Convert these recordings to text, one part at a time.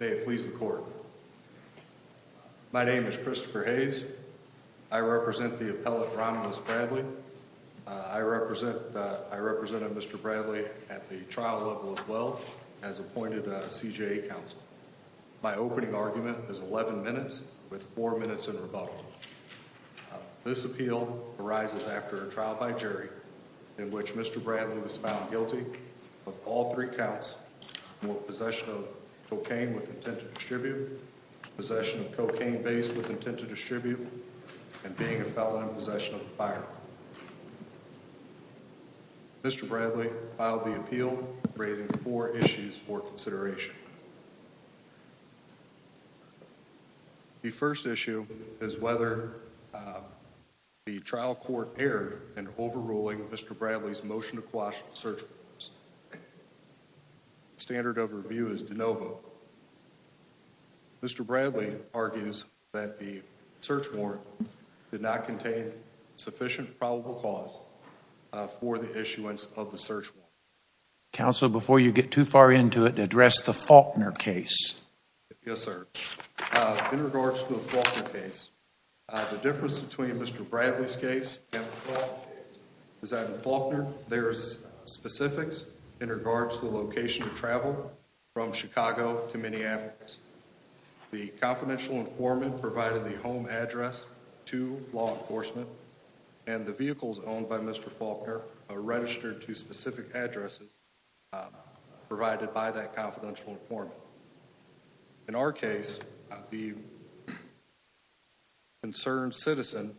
May it please the court. My name is Christopher Hayes. I represent the appellate Ramelus Bradley. I represented Mr. Bradley at the trial level as well as appointed a CJA counsel. My opening argument is 11 minutes with four minutes in rebuttal. This appeal arises after a trial by jury in which Mr. Bradley was found guilty of all three counts. Possession of cocaine with intent to distribute, possession of cocaine-based with intent to distribute, and being a felon in possession of a firearm. Mr. Bradley filed the appeal raising four issues for consideration. The first issue is whether the trial court erred in overruling Mr. Bradley's motion to quash the search warrant. Standard of review is de novo. Mr. Bradley argues that the search warrant did not contain sufficient probable cause for the issuance of the search warrant. Counsel, before you get too far into it, address the Faulkner case. Yes sir. In regards to the Faulkner case, the difference between Mr. Bradley's case and the Faulkner case is that the Faulkner case is a case of a defendant's own. There's specifics in regards to the location of travel from Chicago to Minneapolis. The confidential informant provided the home address to law enforcement and the vehicles owned by Mr. Faulkner are registered to specific addresses provided by that confidential informant. In our case, the concerned citizen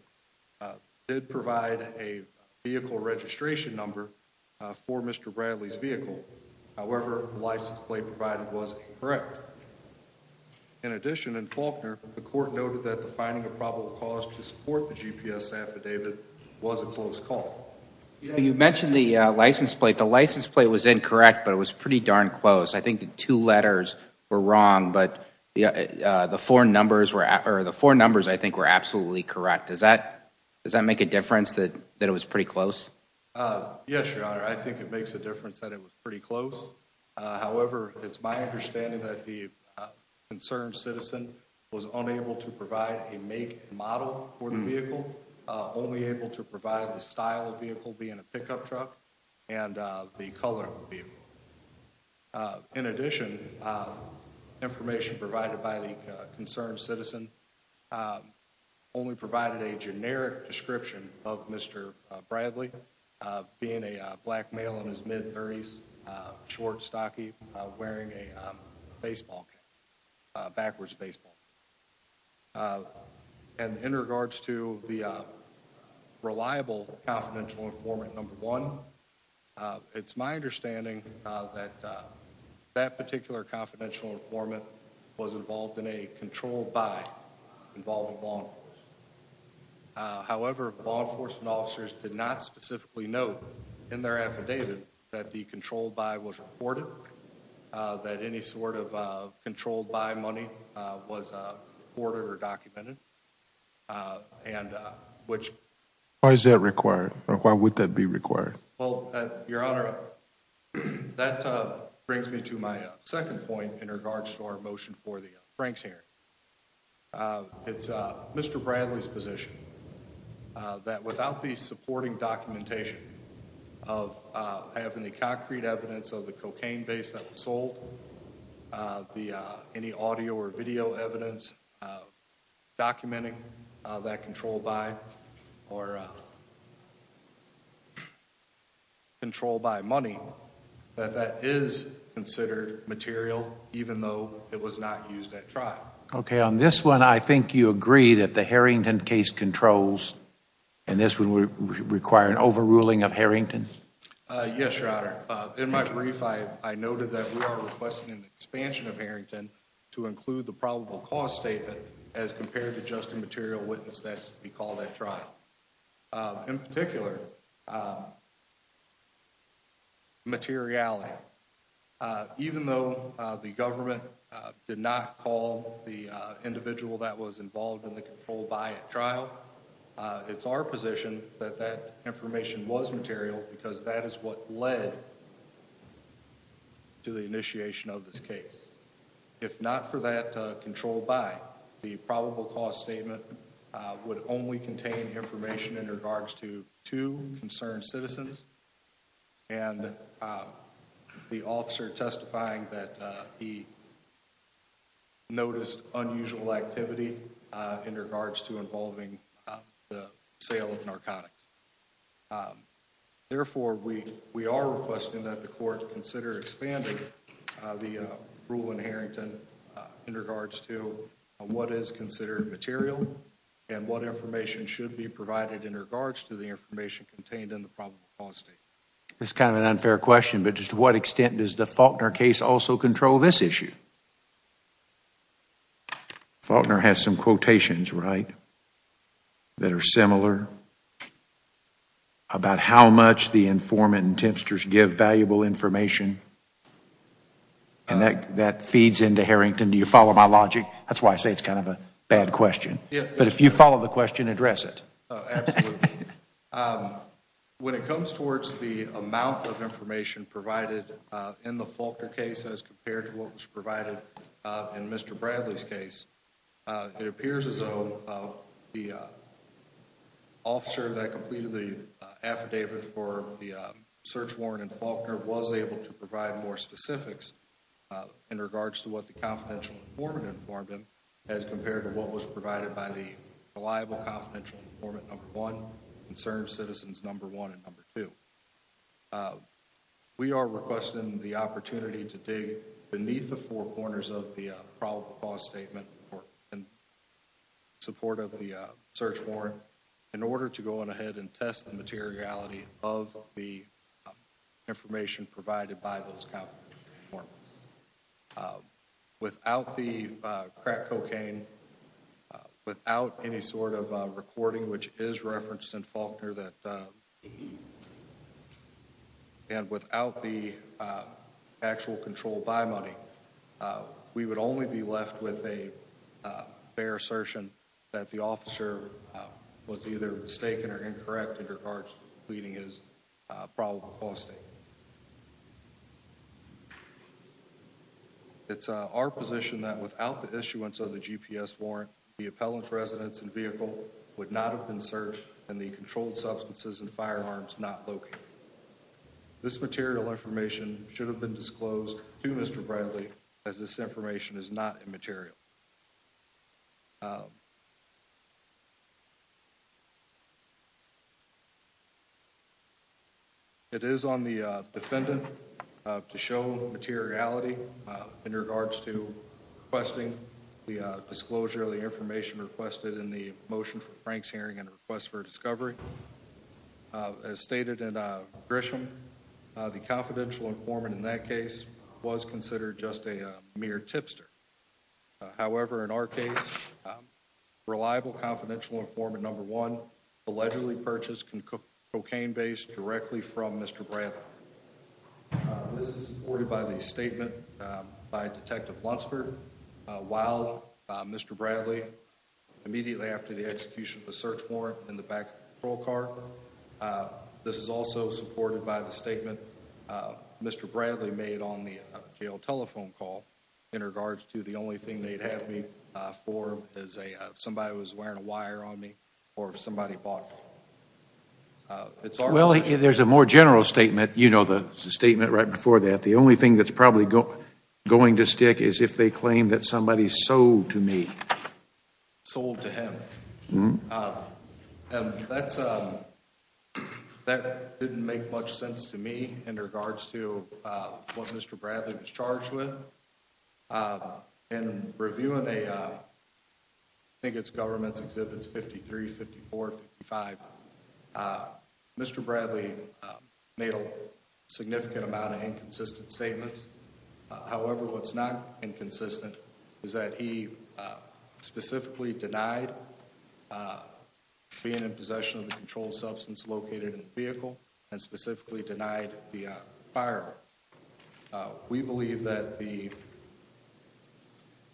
did provide a vehicle registration number for Mr. Bradley's vehicle. However, the license plate provided was incorrect. In addition, in Faulkner, the court noted that the finding of probable cause to support the GPS affidavit was a close call. You mentioned the license plate. The license plate was incorrect, but it was pretty darn close. I think the two letters were wrong, but the four numbers I think were absolutely correct. Does that make a difference that it was pretty close? Yes, your honor. I think it makes a difference that it was pretty close. However, it's my understanding that the concerned citizen was unable to provide a make and model for the vehicle, only able to provide the style of vehicle being a pickup truck and the color of the vehicle. In addition, information provided by the concerned citizen only provided a generic description of Mr. Bradley being a black male in his mid-thirties, short, stocky, wearing a baseball cap, backwards baseball cap. And in regards to the reliable confidential informant number one, it's my understanding that that particular confidential informant was involved in a controlled buy involving law enforcement. However, law enforcement officers did not specifically note in their affidavit that the controlled buy was reported, that any sort of controlled buy money was recorded or documented. Why is that required? Why would that be required? Well, your honor, that brings me to my second point in regards to our motion for the Franks hearing. It's Mr. Bradley's position that without the supporting documentation of having the concrete evidence of the cocaine base that was sold, uh, the, uh, any audio or video evidence, uh, documenting, uh, that controlled buy or, uh, controlled buy money, that that is considered material, even though it was not used at trial. Okay. On this one, I think you agree that the Harrington case controls and this would require an overruling of Harrington? Uh, yes, your honor. Uh, in my brief, I, I noted that we are requesting an expansion of Harrington to include the probable cause statement as compared to just a material witness that's be called at trial, uh, in particular, uh, materiality. Uh, even though, uh, the government, uh, did not call the, uh, individual that was because that is what led to the initiation of this case. If not for that, uh, control by the probable cause statement, uh, would only contain information in regards to two concerned citizens and, uh, the officer testifying that, uh, he noticed unusual activity, uh, in regards to involving, uh, the sale of narcotics. Um, therefore, we, we are requesting that the court consider expanding, uh, the, uh, rule in Harrington, uh, in regards to, uh, what is considered material and what information should be provided in regards to the information contained in the probable cause statement. This is kind of an unfair question, but just to what extent does the Faulkner case also control this issue? Faulkner has some quotations, right, that are similar about how much the informant and tempsters give valuable information and that, that feeds into Harrington. Do you follow my logic? That's why I say it's kind of a bad question, but if you follow the question, address it. Absolutely. Um, when it comes towards the amount of information provided, uh, in the Faulkner case, as compared to what was provided, uh, in Mr. Bradley's case, uh, it appears as though, uh, the, uh, officer that completed the, uh, affidavit for the, uh, search warrant in Faulkner was able to provide more specifics, uh, in regards to what the confidential informant informed him as compared to what was provided by the reliable confidential informant, number one, concerned citizens, number one, and number two. Uh, we are requesting the opportunity to dig beneath the four corners of the, uh, probable cause statement in support of the, uh, search warrant in order to go on ahead and test the materiality of the, uh, information provided by those confidential informants, uh, without the, which is referenced in Faulkner that, uh, and without the, uh, actual control by money, uh, we would only be left with a, uh, fair assertion that the officer, uh, was either mistaken or incorrect in regards to completing his, uh, probable cause statement. It's, uh, our position that without the issuance of the GPS warrant, the appellant's residence and vehicle would not have been searched and the controlled substances and firearms not located. This material information should have been disclosed to Mr. Bradley as this information is not immaterial. It is on the, uh, defendant, uh, to show materiality, uh, in regards to requesting the, uh, disclosure of the information requested in the motion for Frank's hearing and request for discovery. Uh, as stated in, uh, Grisham, uh, the confidential informant in that case was considered just a mere tipster. Uh, however, in our case, um, reliable confidential informant number one allegedly purchased can cook cocaine based directly from Mr. Bradley. Uh, this is supported by the statement, uh, by Detective Lunsford, uh, while, uh, Mr. Bradley immediately after the execution of the search warrant in the back of the patrol car. Uh, this is also supported by the statement, uh, Mr. Bradley made on the, uh, jail telephone call in regards to the only thing they'd have me, uh, for is a, uh, somebody was wearing a wire on me or somebody bought it. Well, there's a more general statement, you know, the statement right before that. The only thing that's probably going to stick is if they claim that somebody sold to me, sold to him. Um, and that's, um, that didn't make much sense to me in regards to, uh, what Mr. Bradley was charged with, uh, and reviewing a, uh, I think it's government's 53, 54, 55. Uh, Mr. Bradley, uh, made a significant amount of inconsistent statements. However, what's not inconsistent is that he, uh, specifically denied, uh, being in possession of the controlled substance located in the vehicle and specifically denied the, uh, firearm. Uh, believe that the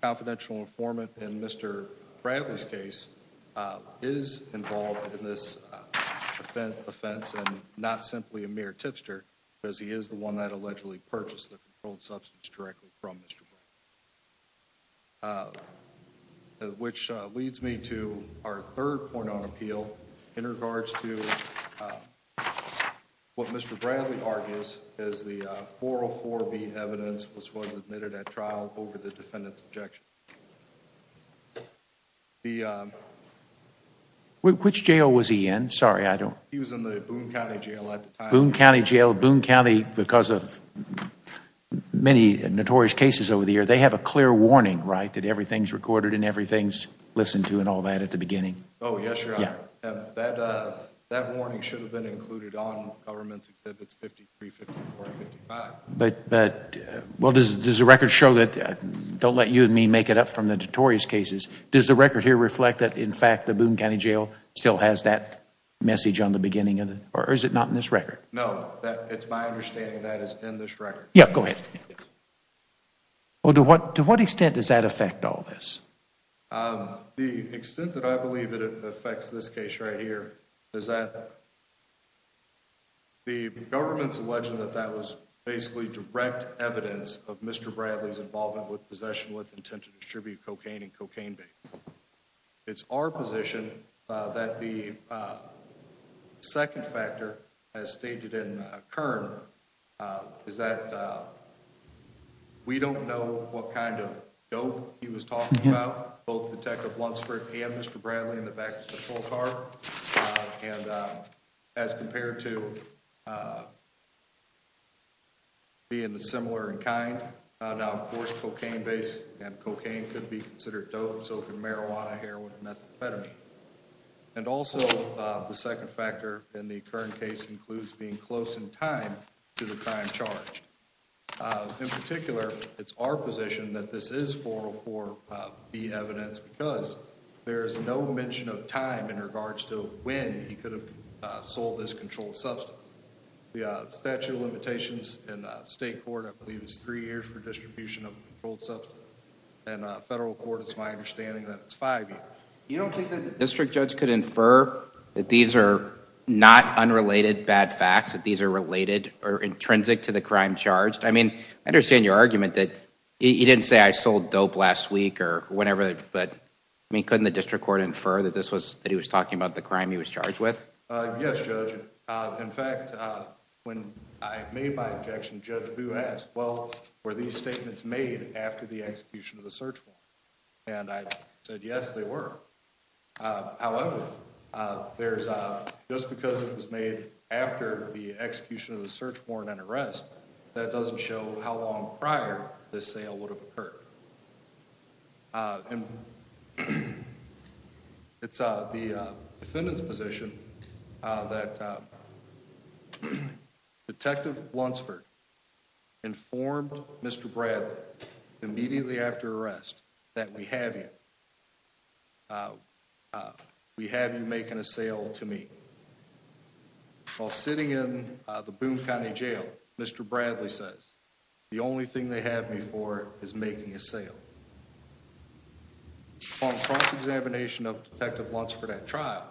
confidential informant and Mr. Bradley's case, uh, is involved in this, uh, offense offense and not simply a mere tipster because he is the one that allegedly purchased the controlled substance directly from Mr. Uh, which, uh, leads me to our third point on appeal in regards to, uh, what Mr. Bradley argues is the, uh, 404B evidence was, was admitted at trial over the defendant's objection. The, um. Which jail was he in? Sorry, I don't. He was in the Boone County Jail at the time. Boone County Jail, Boone County, because of many notorious cases over the years, they have a clear warning, right? That everything's recorded and everything's and all that at the beginning. Oh, yes, Your Honor. That, uh, that warning should have been included on government's exhibits 53, 54, 55. But, but, well, does, does the record show that, don't let you and me make it up from the notorious cases. Does the record here reflect that, in fact, the Boone County Jail still has that message on the beginning of the, or is it not in this record? No, that, it's my understanding that it's in this record. Yeah, go ahead. Yes. Well, to what, to what extent does that affect all this? Um, the extent that I believe it affects this case right here is that the government's alleged that that was basically direct evidence of Mr. Bradley's involvement with possession with intent to distribute cocaine and cocaine vaping. It's our position, uh, that the, the second factor as stated in Kern, uh, is that, uh, we don't know what kind of dope he was talking about, both Detective Lunsford and Mr. Bradley in the back of the patrol car. Uh, and, uh, as compared to, uh, being the similar in kind, uh, now, of course, cocaine based and cocaine could be considered dope, so could marijuana, heroin, methamphetamine. And also, uh, the second factor in the current case includes being close in time to the time charged. Uh, in particular, it's our position that this is 404B evidence because there is no mention of time in regards to when he could have sold this controlled substance. The, uh, statute of limitations in, uh, state court, I believe it's three years for distribution of a controlled You don't think that the district judge could infer that these are not unrelated bad facts, that these are related or intrinsic to the crime charged? I mean, I understand your argument that he didn't say I sold dope last week or whatever, but I mean, couldn't the district court infer that this was, that he was talking about the crime he was charged with? Uh, yes, Judge. Uh, in fact, when I made my objection, Judge Boo asked, well, were these statements made after the execution of the search warrant? And I said, yes, they were. Uh, however, uh, there's a, just because it was made after the execution of the search warrant and arrest, that doesn't show how long prior this sale would have occurred. Uh, and it's, uh, the, uh, defendant's position, uh, that, uh, Detective Bluntsford informed Mr. Bradley immediately after arrest that we have you, uh, uh, we have you making a sale to me. While sitting in the Boone County Jail, Mr. Bradley says, the only thing they have me for is making a sale. Upon cross-examination of Detective Bluntsford at trial,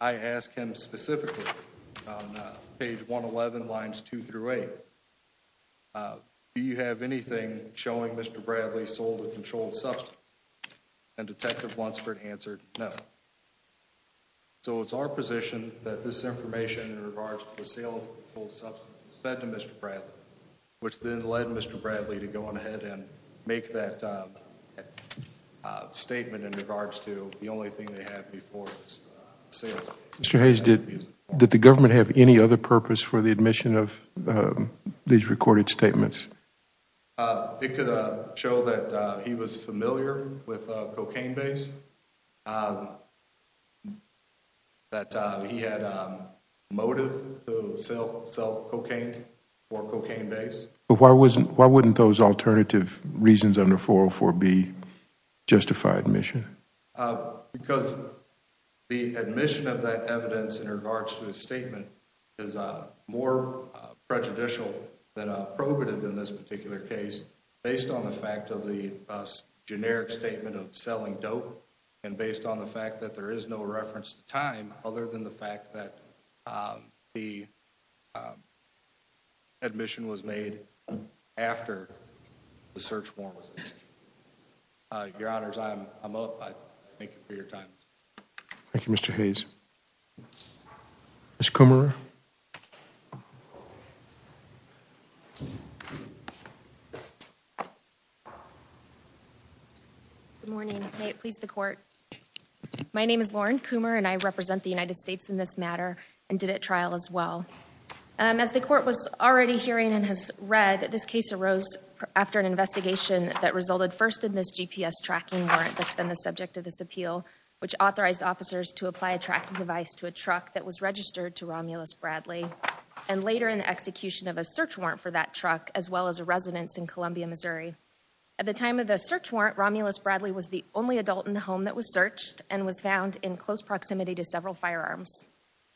I ask him specifically on page 111 lines two through eight, uh, do you have anything showing Mr. Bradley sold a controlled substance? And Detective Bluntsford answered no. So it's our position that this information in regards to the sale of the controlled substance was fed to Mr. Bradley, which then led Mr. Bradley to go on ahead and make that, uh, uh, statement in regards to the only thing they have me for is sales. Mr. Hayes, did, did the government have any other purpose for the admission of, um, these recorded statements? Uh, it could, uh, show that, uh, he was familiar with, uh, cocaine base, uh, that, uh, he had, um, motive to sell, sell cocaine for cocaine base. But why wasn't, why wouldn't those alternative reasons under 404B justify admission? Because the admission of that evidence in regards to the statement is, uh, more, uh, prejudicial than, uh, probative in this particular case based on the fact of the, uh, generic statement of selling dope and based on the fact that there is no reference to time other than the um, admission was made after the search warrant was issued. Uh, your honors, I'm, I'm, uh, thank you for your time. Thank you, Mr. Hayes. Ms. Kummer. Good morning. May it please the court. My name is Lauren Kummer and I represent the As the court was already hearing and has read, this case arose after an investigation that resulted first in this GPS tracking warrant that's been the subject of this appeal, which authorized officers to apply a tracking device to a truck that was registered to Romulus Bradley and later in the execution of a search warrant for that truck, as well as a residence in Columbia, Missouri. At the time of the search warrant, Romulus Bradley was the only adult in the home that was searched and was found in close proximity to several firearms.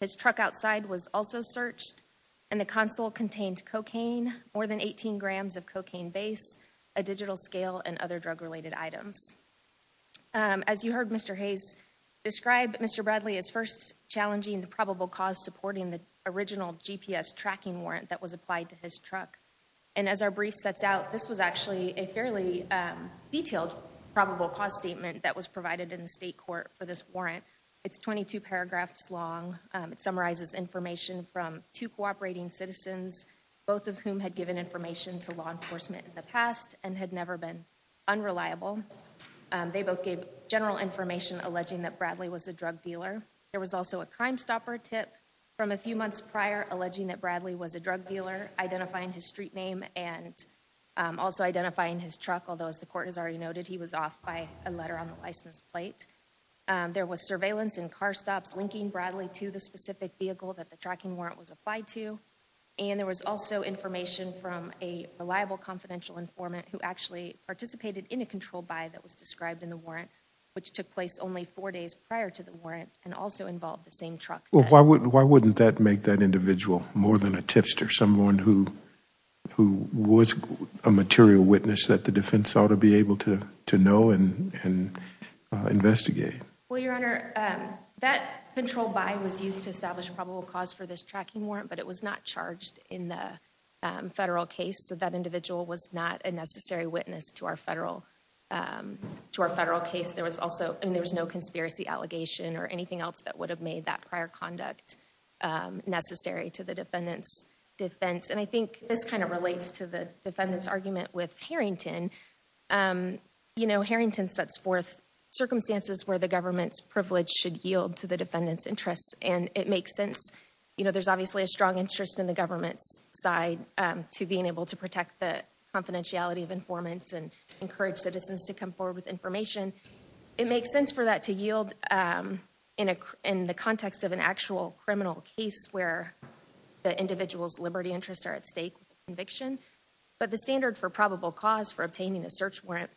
His truck outside was also searched and the console contained cocaine, more than 18 grams of cocaine base, a digital scale and other drug related items. Um, as you heard, Mr. Hayes described Mr. Bradley as first challenging the probable cause supporting the original GPS tracking warrant that was applied to his truck. And as our brief sets out, this was actually a fairly, um, detailed probable cause statement that was provided in the state court for this warrant. It's 22 paragraphs long. Um, it summarizes information from two cooperating citizens, both of whom had given information to law enforcement in the past and had never been unreliable. Um, they both gave general information alleging that Bradley was a drug dealer. There was also a crime stopper tip from a few months prior alleging that Bradley was a drug dealer, identifying his street name and, um, also identifying his truck. Although as the court has already noted, he was off by a letter on the that the tracking warrant was applied to. And there was also information from a reliable confidential informant who actually participated in a control by that was described in the warrant, which took place only four days prior to the warrant and also involved the same truck. Well, why wouldn't, why wouldn't that make that individual more than a tipster, someone who, who was a material witness that the defense ought to be able to, to know and, and, uh, investigate? Well, Your Honor, um, that control by was used to establish probable cause for this tracking warrant, but it was not charged in the federal case. So that individual was not a necessary witness to our federal, um, to our federal case. There was also, I mean, there was no conspiracy allegation or anything else that would have made that prior conduct, um, necessary to the defendant's defense. And I think this kind of relates to the defendant's argument with Harrington. Um, you know, Harrington sets forth circumstances where the government's privilege should yield to the defendant's interests. And it makes sense, you know, there's obviously a strong interest in the government's side, um, to being able to protect the confidentiality of informants and encourage citizens to come forward with information. It makes sense for that to yield, um, in a, in the context of an actual criminal case where the individual's liberty interests are at stake with conviction. But the standard for probable cause for obtaining a search warrant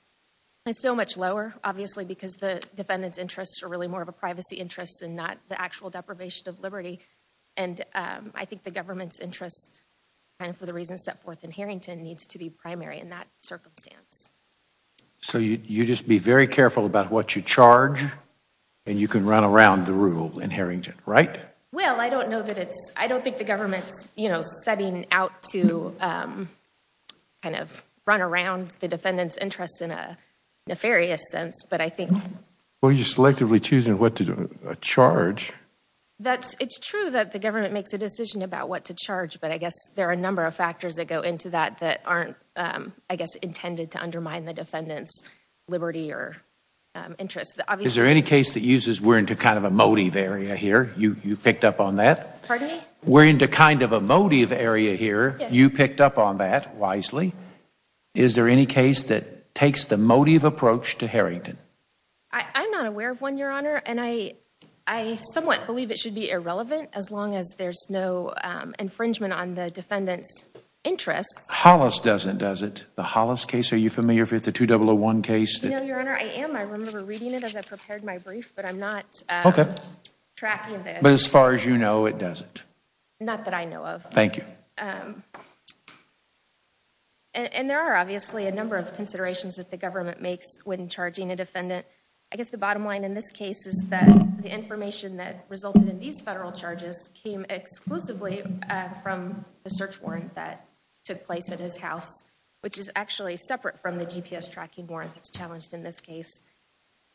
is so much lower, obviously, because the defendant's interests are really more of a privacy interest and not the actual deprivation of liberty. And, um, I think the government's interest kind of for the reasons set forth in Harrington needs to be primary in that circumstance. So you, you just be very careful about what you charge and you can run around the rule in Harrington, right? Well, I don't know that it's, I don't think the government's, you know, setting out to, um, kind of run around the defendant's interest in a nefarious sense, but I think. Well, you're selectively choosing what to charge. That's, it's true that the government makes a decision about what to charge, but I guess there are a number of factors that go into that that aren't, um, I guess intended to undermine the defendant's liberty or, um, interest. Is there any case that uses we're into kind of a motive area here? You, you picked up on that. Pardon me? We're into kind of a motive area here. You picked up on that wisely. Is there any case that takes the motive approach to Harrington? I, I'm not aware of one, Your Honor, and I, I somewhat believe it should be irrelevant as long as there's no, um, infringement on the defendant's interests. Hollis doesn't, does it? The Hollis case, are you familiar with the 2001 case? You know, Your Honor, I am. I remember reading it as I prepared my brief, but I'm not, okay, tracking it. But as far as you know, it doesn't. Not that I know of. Thank you. Um, and there are obviously a number of considerations that the government makes when charging a defendant. I guess the bottom line in this case is that the information that resulted in these federal charges came exclusively from the search warrant that took place at his house, which is actually separate from the GPS tracking warrant that's challenged in this case.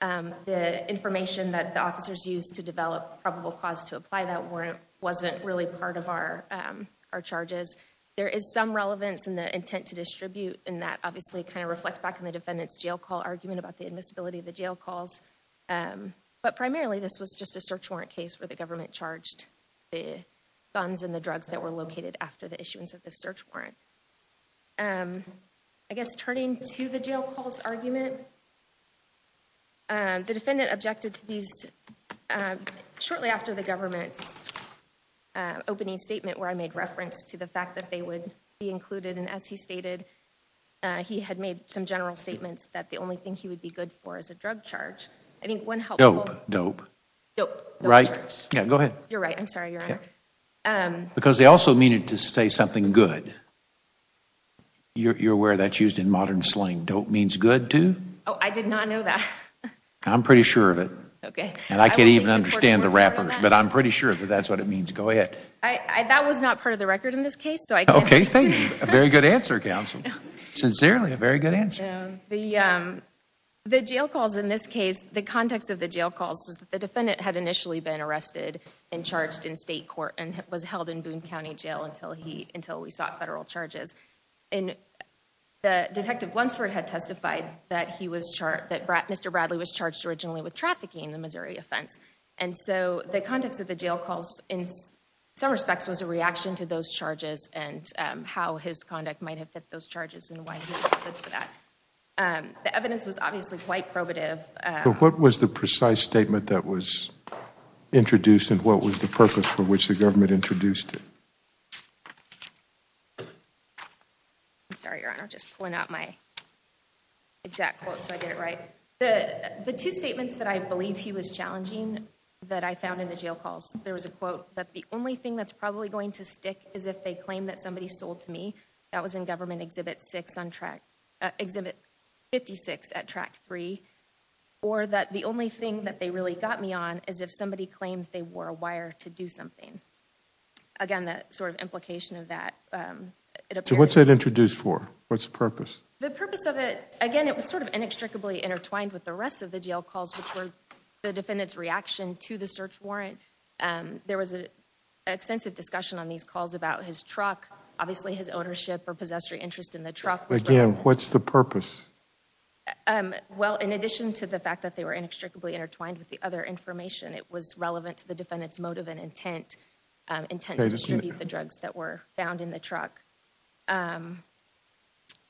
Um, the information that the officers used to develop probable cause to apply that warrant wasn't really part of our, um, our charges. There is some relevance in the intent to distribute, and that obviously kind of reflects back in the defendant's jail call argument about the admissibility of the jail calls. Um, but primarily this was just a search warrant case where the government charged the guns and the drugs that were located after the issuance of the search warrant. Um, I guess turning to the jail calls argument, um, the defendant objected to these, um, shortly after the government's, uh, opening statement where I made reference to the fact that they would be included. And as he stated, uh, he had made some general statements that the only thing he would be good for is a drug charge. I think one helped. Dope. Dope. Right. Yeah, go ahead. You're right. I'm sorry, good. You're aware that's used in modern slang. Dope means good, too? Oh, I did not know that. I'm pretty sure of it. Okay. And I can't even understand the rappers, but I'm pretty sure that that's what it means. Go ahead. I, that was not part of the record in this case, so I can't. Okay, thank you. A very good answer, counsel. Sincerely, a very good answer. The, um, the jail calls in this case, the context of the jail calls is that the defendant had initially been arrested and charged in state court and was held in Boone County Jail until he, until we sought federal charges. And the Detective Lunsford had testified that he was charged, that Mr. Bradley was charged originally with trafficking in the Missouri offense. And so the context of the jail calls in some respects was a reaction to those charges and, um, how his conduct might have fit those charges and why he was convicted for that. Um, the evidence was obviously quite probative. But what was the precise statement that was introduced and what was the purpose for which the government introduced it? I'm sorry, Your Honor, just pulling out my exact quote so I get it right. The, the two statements that I believe he was challenging that I found in the jail calls, there was a quote that the only thing that's probably going to stick is if they claim that somebody sold to me. That was in six on track, uh, exhibit 56 at track three. Or that the only thing that they really got me on is if somebody claims they wore a wire to do something. Again, that sort of implication of that. Um, so what's that introduced for? What's the purpose? The purpose of it, again, it was sort of inextricably intertwined with the rest of the jail calls, which were the defendant's reaction to the search warrant. Um, there was a extensive discussion on these calls about his truck, obviously his ownership or possessory interest in the truck. Again, what's the purpose? Um, well, in addition to the fact that they were inextricably intertwined with the other information, it was relevant to the defendant's motive and intent, um, intent to distribute the drugs that were found in the truck. Um,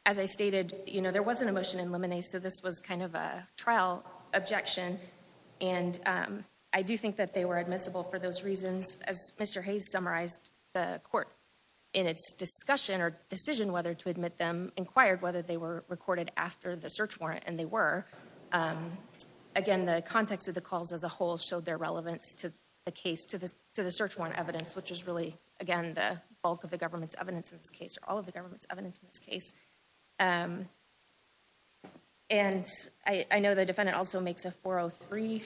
as I stated, you know, there wasn't a motion in limine, so this was kind of a trial objection. And, um, I do think that they were admissible for those discussion or decision whether to admit them, inquired whether they were recorded after the search warrant, and they were. Um, again, the context of the calls as a whole showed their relevance to the case, to the search warrant evidence, which is really, again, the bulk of the government's evidence in this case, or all of the government's evidence in this case. Um, and I know the defendant also makes a 403,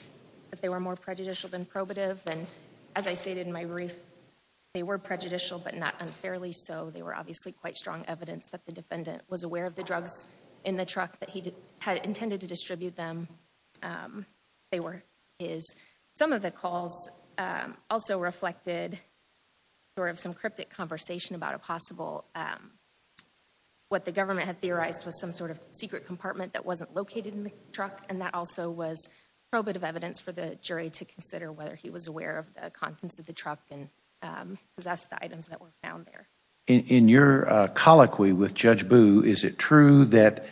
that they were more prejudicial than probative. And as I stated in my brief, they were prejudicial, but not unfairly so. They were obviously quite strong evidence that the defendant was aware of the drugs in the truck that he had intended to distribute them. Um, they were his. Some of the calls, um, also reflected sort of some cryptic conversation about a possible, um, what the government had theorized was some sort of secret compartment that wasn't located in the truck. And that also was probative evidence for the jury to consider whether he was aware of the contents of the truck and, um, possessed the items that were found there. In your, uh, colloquy with Judge Boo, is it true that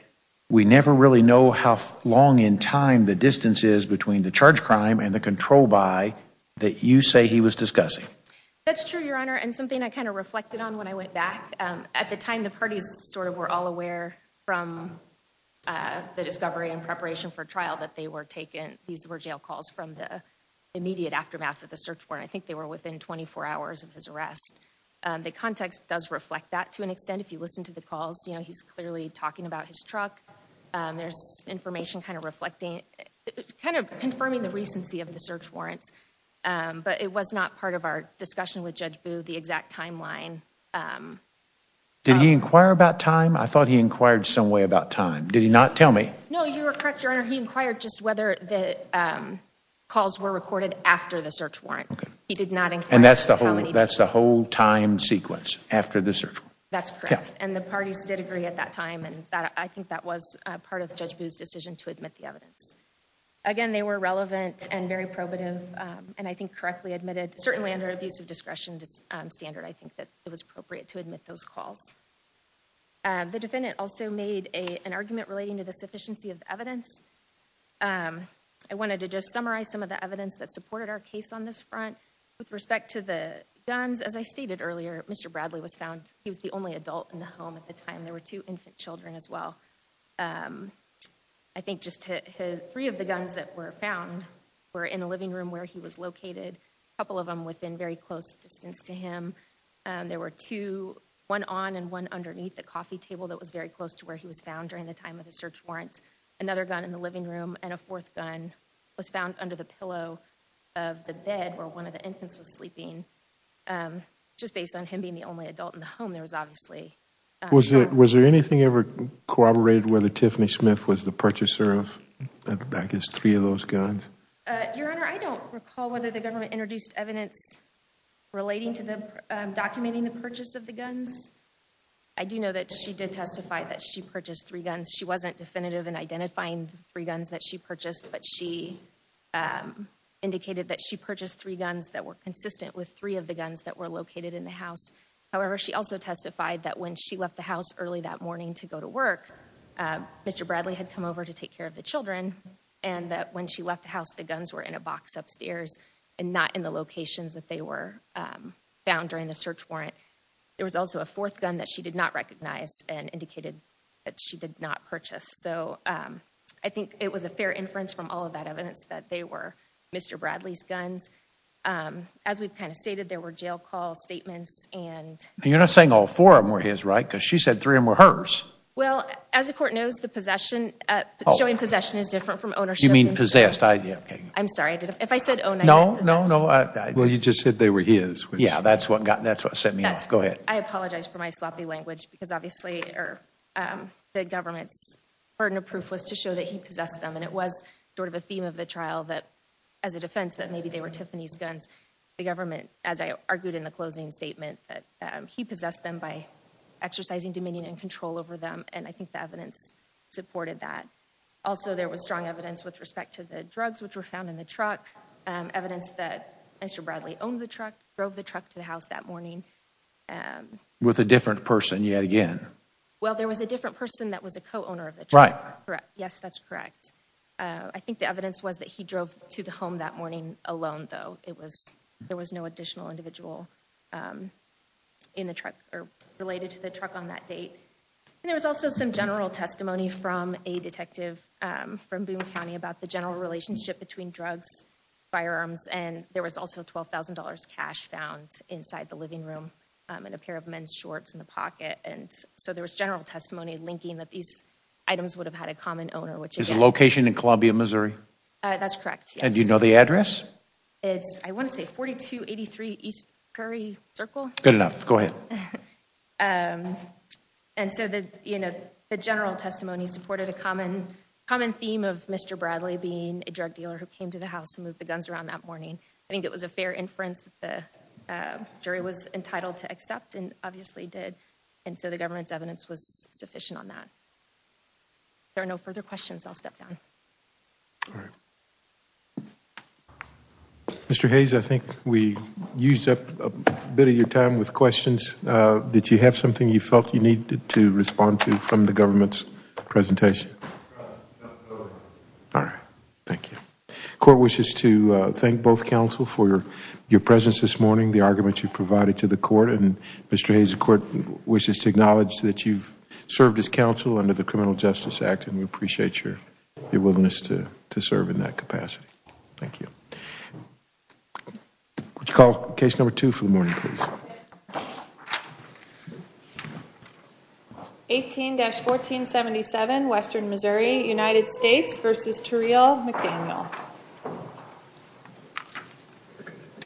we never really know how long in time the distance is between the charge crime and the control by that you say he was discussing? That's true, your honor. And something I kind of reflected on when I went back, um, at the time the parties sort of were all aware from, uh, the discovery and preparation for trial that they were taken. These were jail calls from the immediate aftermath of the search warrant. I think they were within 24 hours of his arrest. Um, the context does reflect that to an extent. If you listen to the calls, you know, he's clearly talking about his truck. Um, there's information kind of reflecting, kind of confirming the recency of the search warrants. Um, but it was not part of our discussion with Judge Boo, the exact timeline. Um. Did he inquire about time? I thought he inquired some way about time. Did he not tell me? No, you were correct, your honor. He inquired just whether the, um, calls were recorded after the search warrant. Okay. He did not inquire. And that's the whole, that's the whole time sequence after the search warrant. That's correct. And the parties did agree at that time and that, I think that was, uh, part of Judge Boo's decision to admit the evidence. Again, they were relevant and very probative, um, and I think correctly admitted, certainly under an abuse of discretion, um, standard, I think that it was appropriate to admit those calls. Uh, the defendant also made a, an argument relating to the sufficiency of the evidence. Um, I wanted to just summarize some of the evidence that supported our case on this front with respect to the guns. As I stated earlier, Mr. Bradley was found, he was the only adult in the home at the time. There were two infant children as well. Um, I think just to his, three of the guns that were found were in the living room where he was the coffee table that was very close to where he was found during the time of the search warrants. Another gun in the living room and a fourth gun was found under the pillow of the bed where one of the infants was sleeping. Um, just based on him being the only adult in the home, there was obviously, uh, Was there, was there anything ever corroborated whether Tiffany Smith was the purchaser of, I guess, three of those guns? Uh, Your Honor, I don't recall whether the government introduced evidence relating to the, um, documenting the purchase of the guns. I do know that she did testify that she purchased three guns. She wasn't definitive in identifying three guns that she purchased, but she, um, indicated that she purchased three guns that were consistent with three of the guns that were located in the house. However, she also testified that when she left the house early that morning to go to work, um, Mr. Bradley had come over to take care of the children and that when she left the house, the guns were in a box upstairs and not in the locations that they were, um, found during the search warrant. There was also a fourth gun that she did not recognize and indicated that she did not purchase. So, um, I think it was a fair inference from all of that evidence that they were Mr. Bradley's guns. Um, as we've kind of stated, there were jail call statements and You're not saying all four of them were his, right? Because she said three of them were hers. Well, as the court knows, the possession, uh, showing possession is different from ownership. You mean possessed? I, I'm sorry. I did. If I said, oh, no, no, no. Well, you just said they were his. Yeah. That's what got, that's what set me off. Go ahead. I apologize for my sloppy language because obviously, or, um, the government's burden of proof was to show that he possessed them. And it was sort of a theme of the trial that as a defense that maybe they were Tiffany's guns. The government, as I argued in the closing statement, that, um, he possessed them by exercising dominion and control over them. And I think the evidence supported that. Also, there was strong evidence with respect to the drugs, which were found in the truck, um, evidence that Mr. Bradley owned the truck, drove the truck to the house that morning. Um, with a different person yet again. Well, there was a different person that was a co-owner of the truck, correct? Yes, that's correct. Uh, I think the evidence was that he drove to the home that morning alone though. It was, there was no additional individual, um, in the truck or related to the truck on that date. And there was also some general testimony from a detective, um, from Boone County about the general relationship between drugs, firearms, and there was also $12,000 cash found inside the living room, um, and a pair of men's shorts in the pocket. And so there was general testimony linking that these items would have had a common owner, which is a location in Columbia, Missouri. Uh, that's correct. And do you know the address? It's, I want to say 4283 East Curry Circle. Good enough. Go ahead. Um, and so the, you know, the general testimony supported a common, common theme of Mr. Bradley being a drug dealer who the, uh, jury was entitled to accept and obviously did. And so the government's evidence was sufficient on that. If there are no further questions, I'll step down. All right. Mr. Hayes, I think we used up a bit of your time with questions. Uh, did you have something you felt you needed to respond to from the government's presentation? No. All right. Thank you. Court wishes to, uh, thank both counsel for your, your presence this morning, the argument you provided to the court, and Mr. Hayes, the court wishes to acknowledge that you've served as counsel under the Criminal Justice Act, and we appreciate your, your willingness to, to serve in that capacity. Thank you. Would you call case number two for the morning, please? Yes. 18-1477 Western Missouri, United States v. Turreal McDaniel.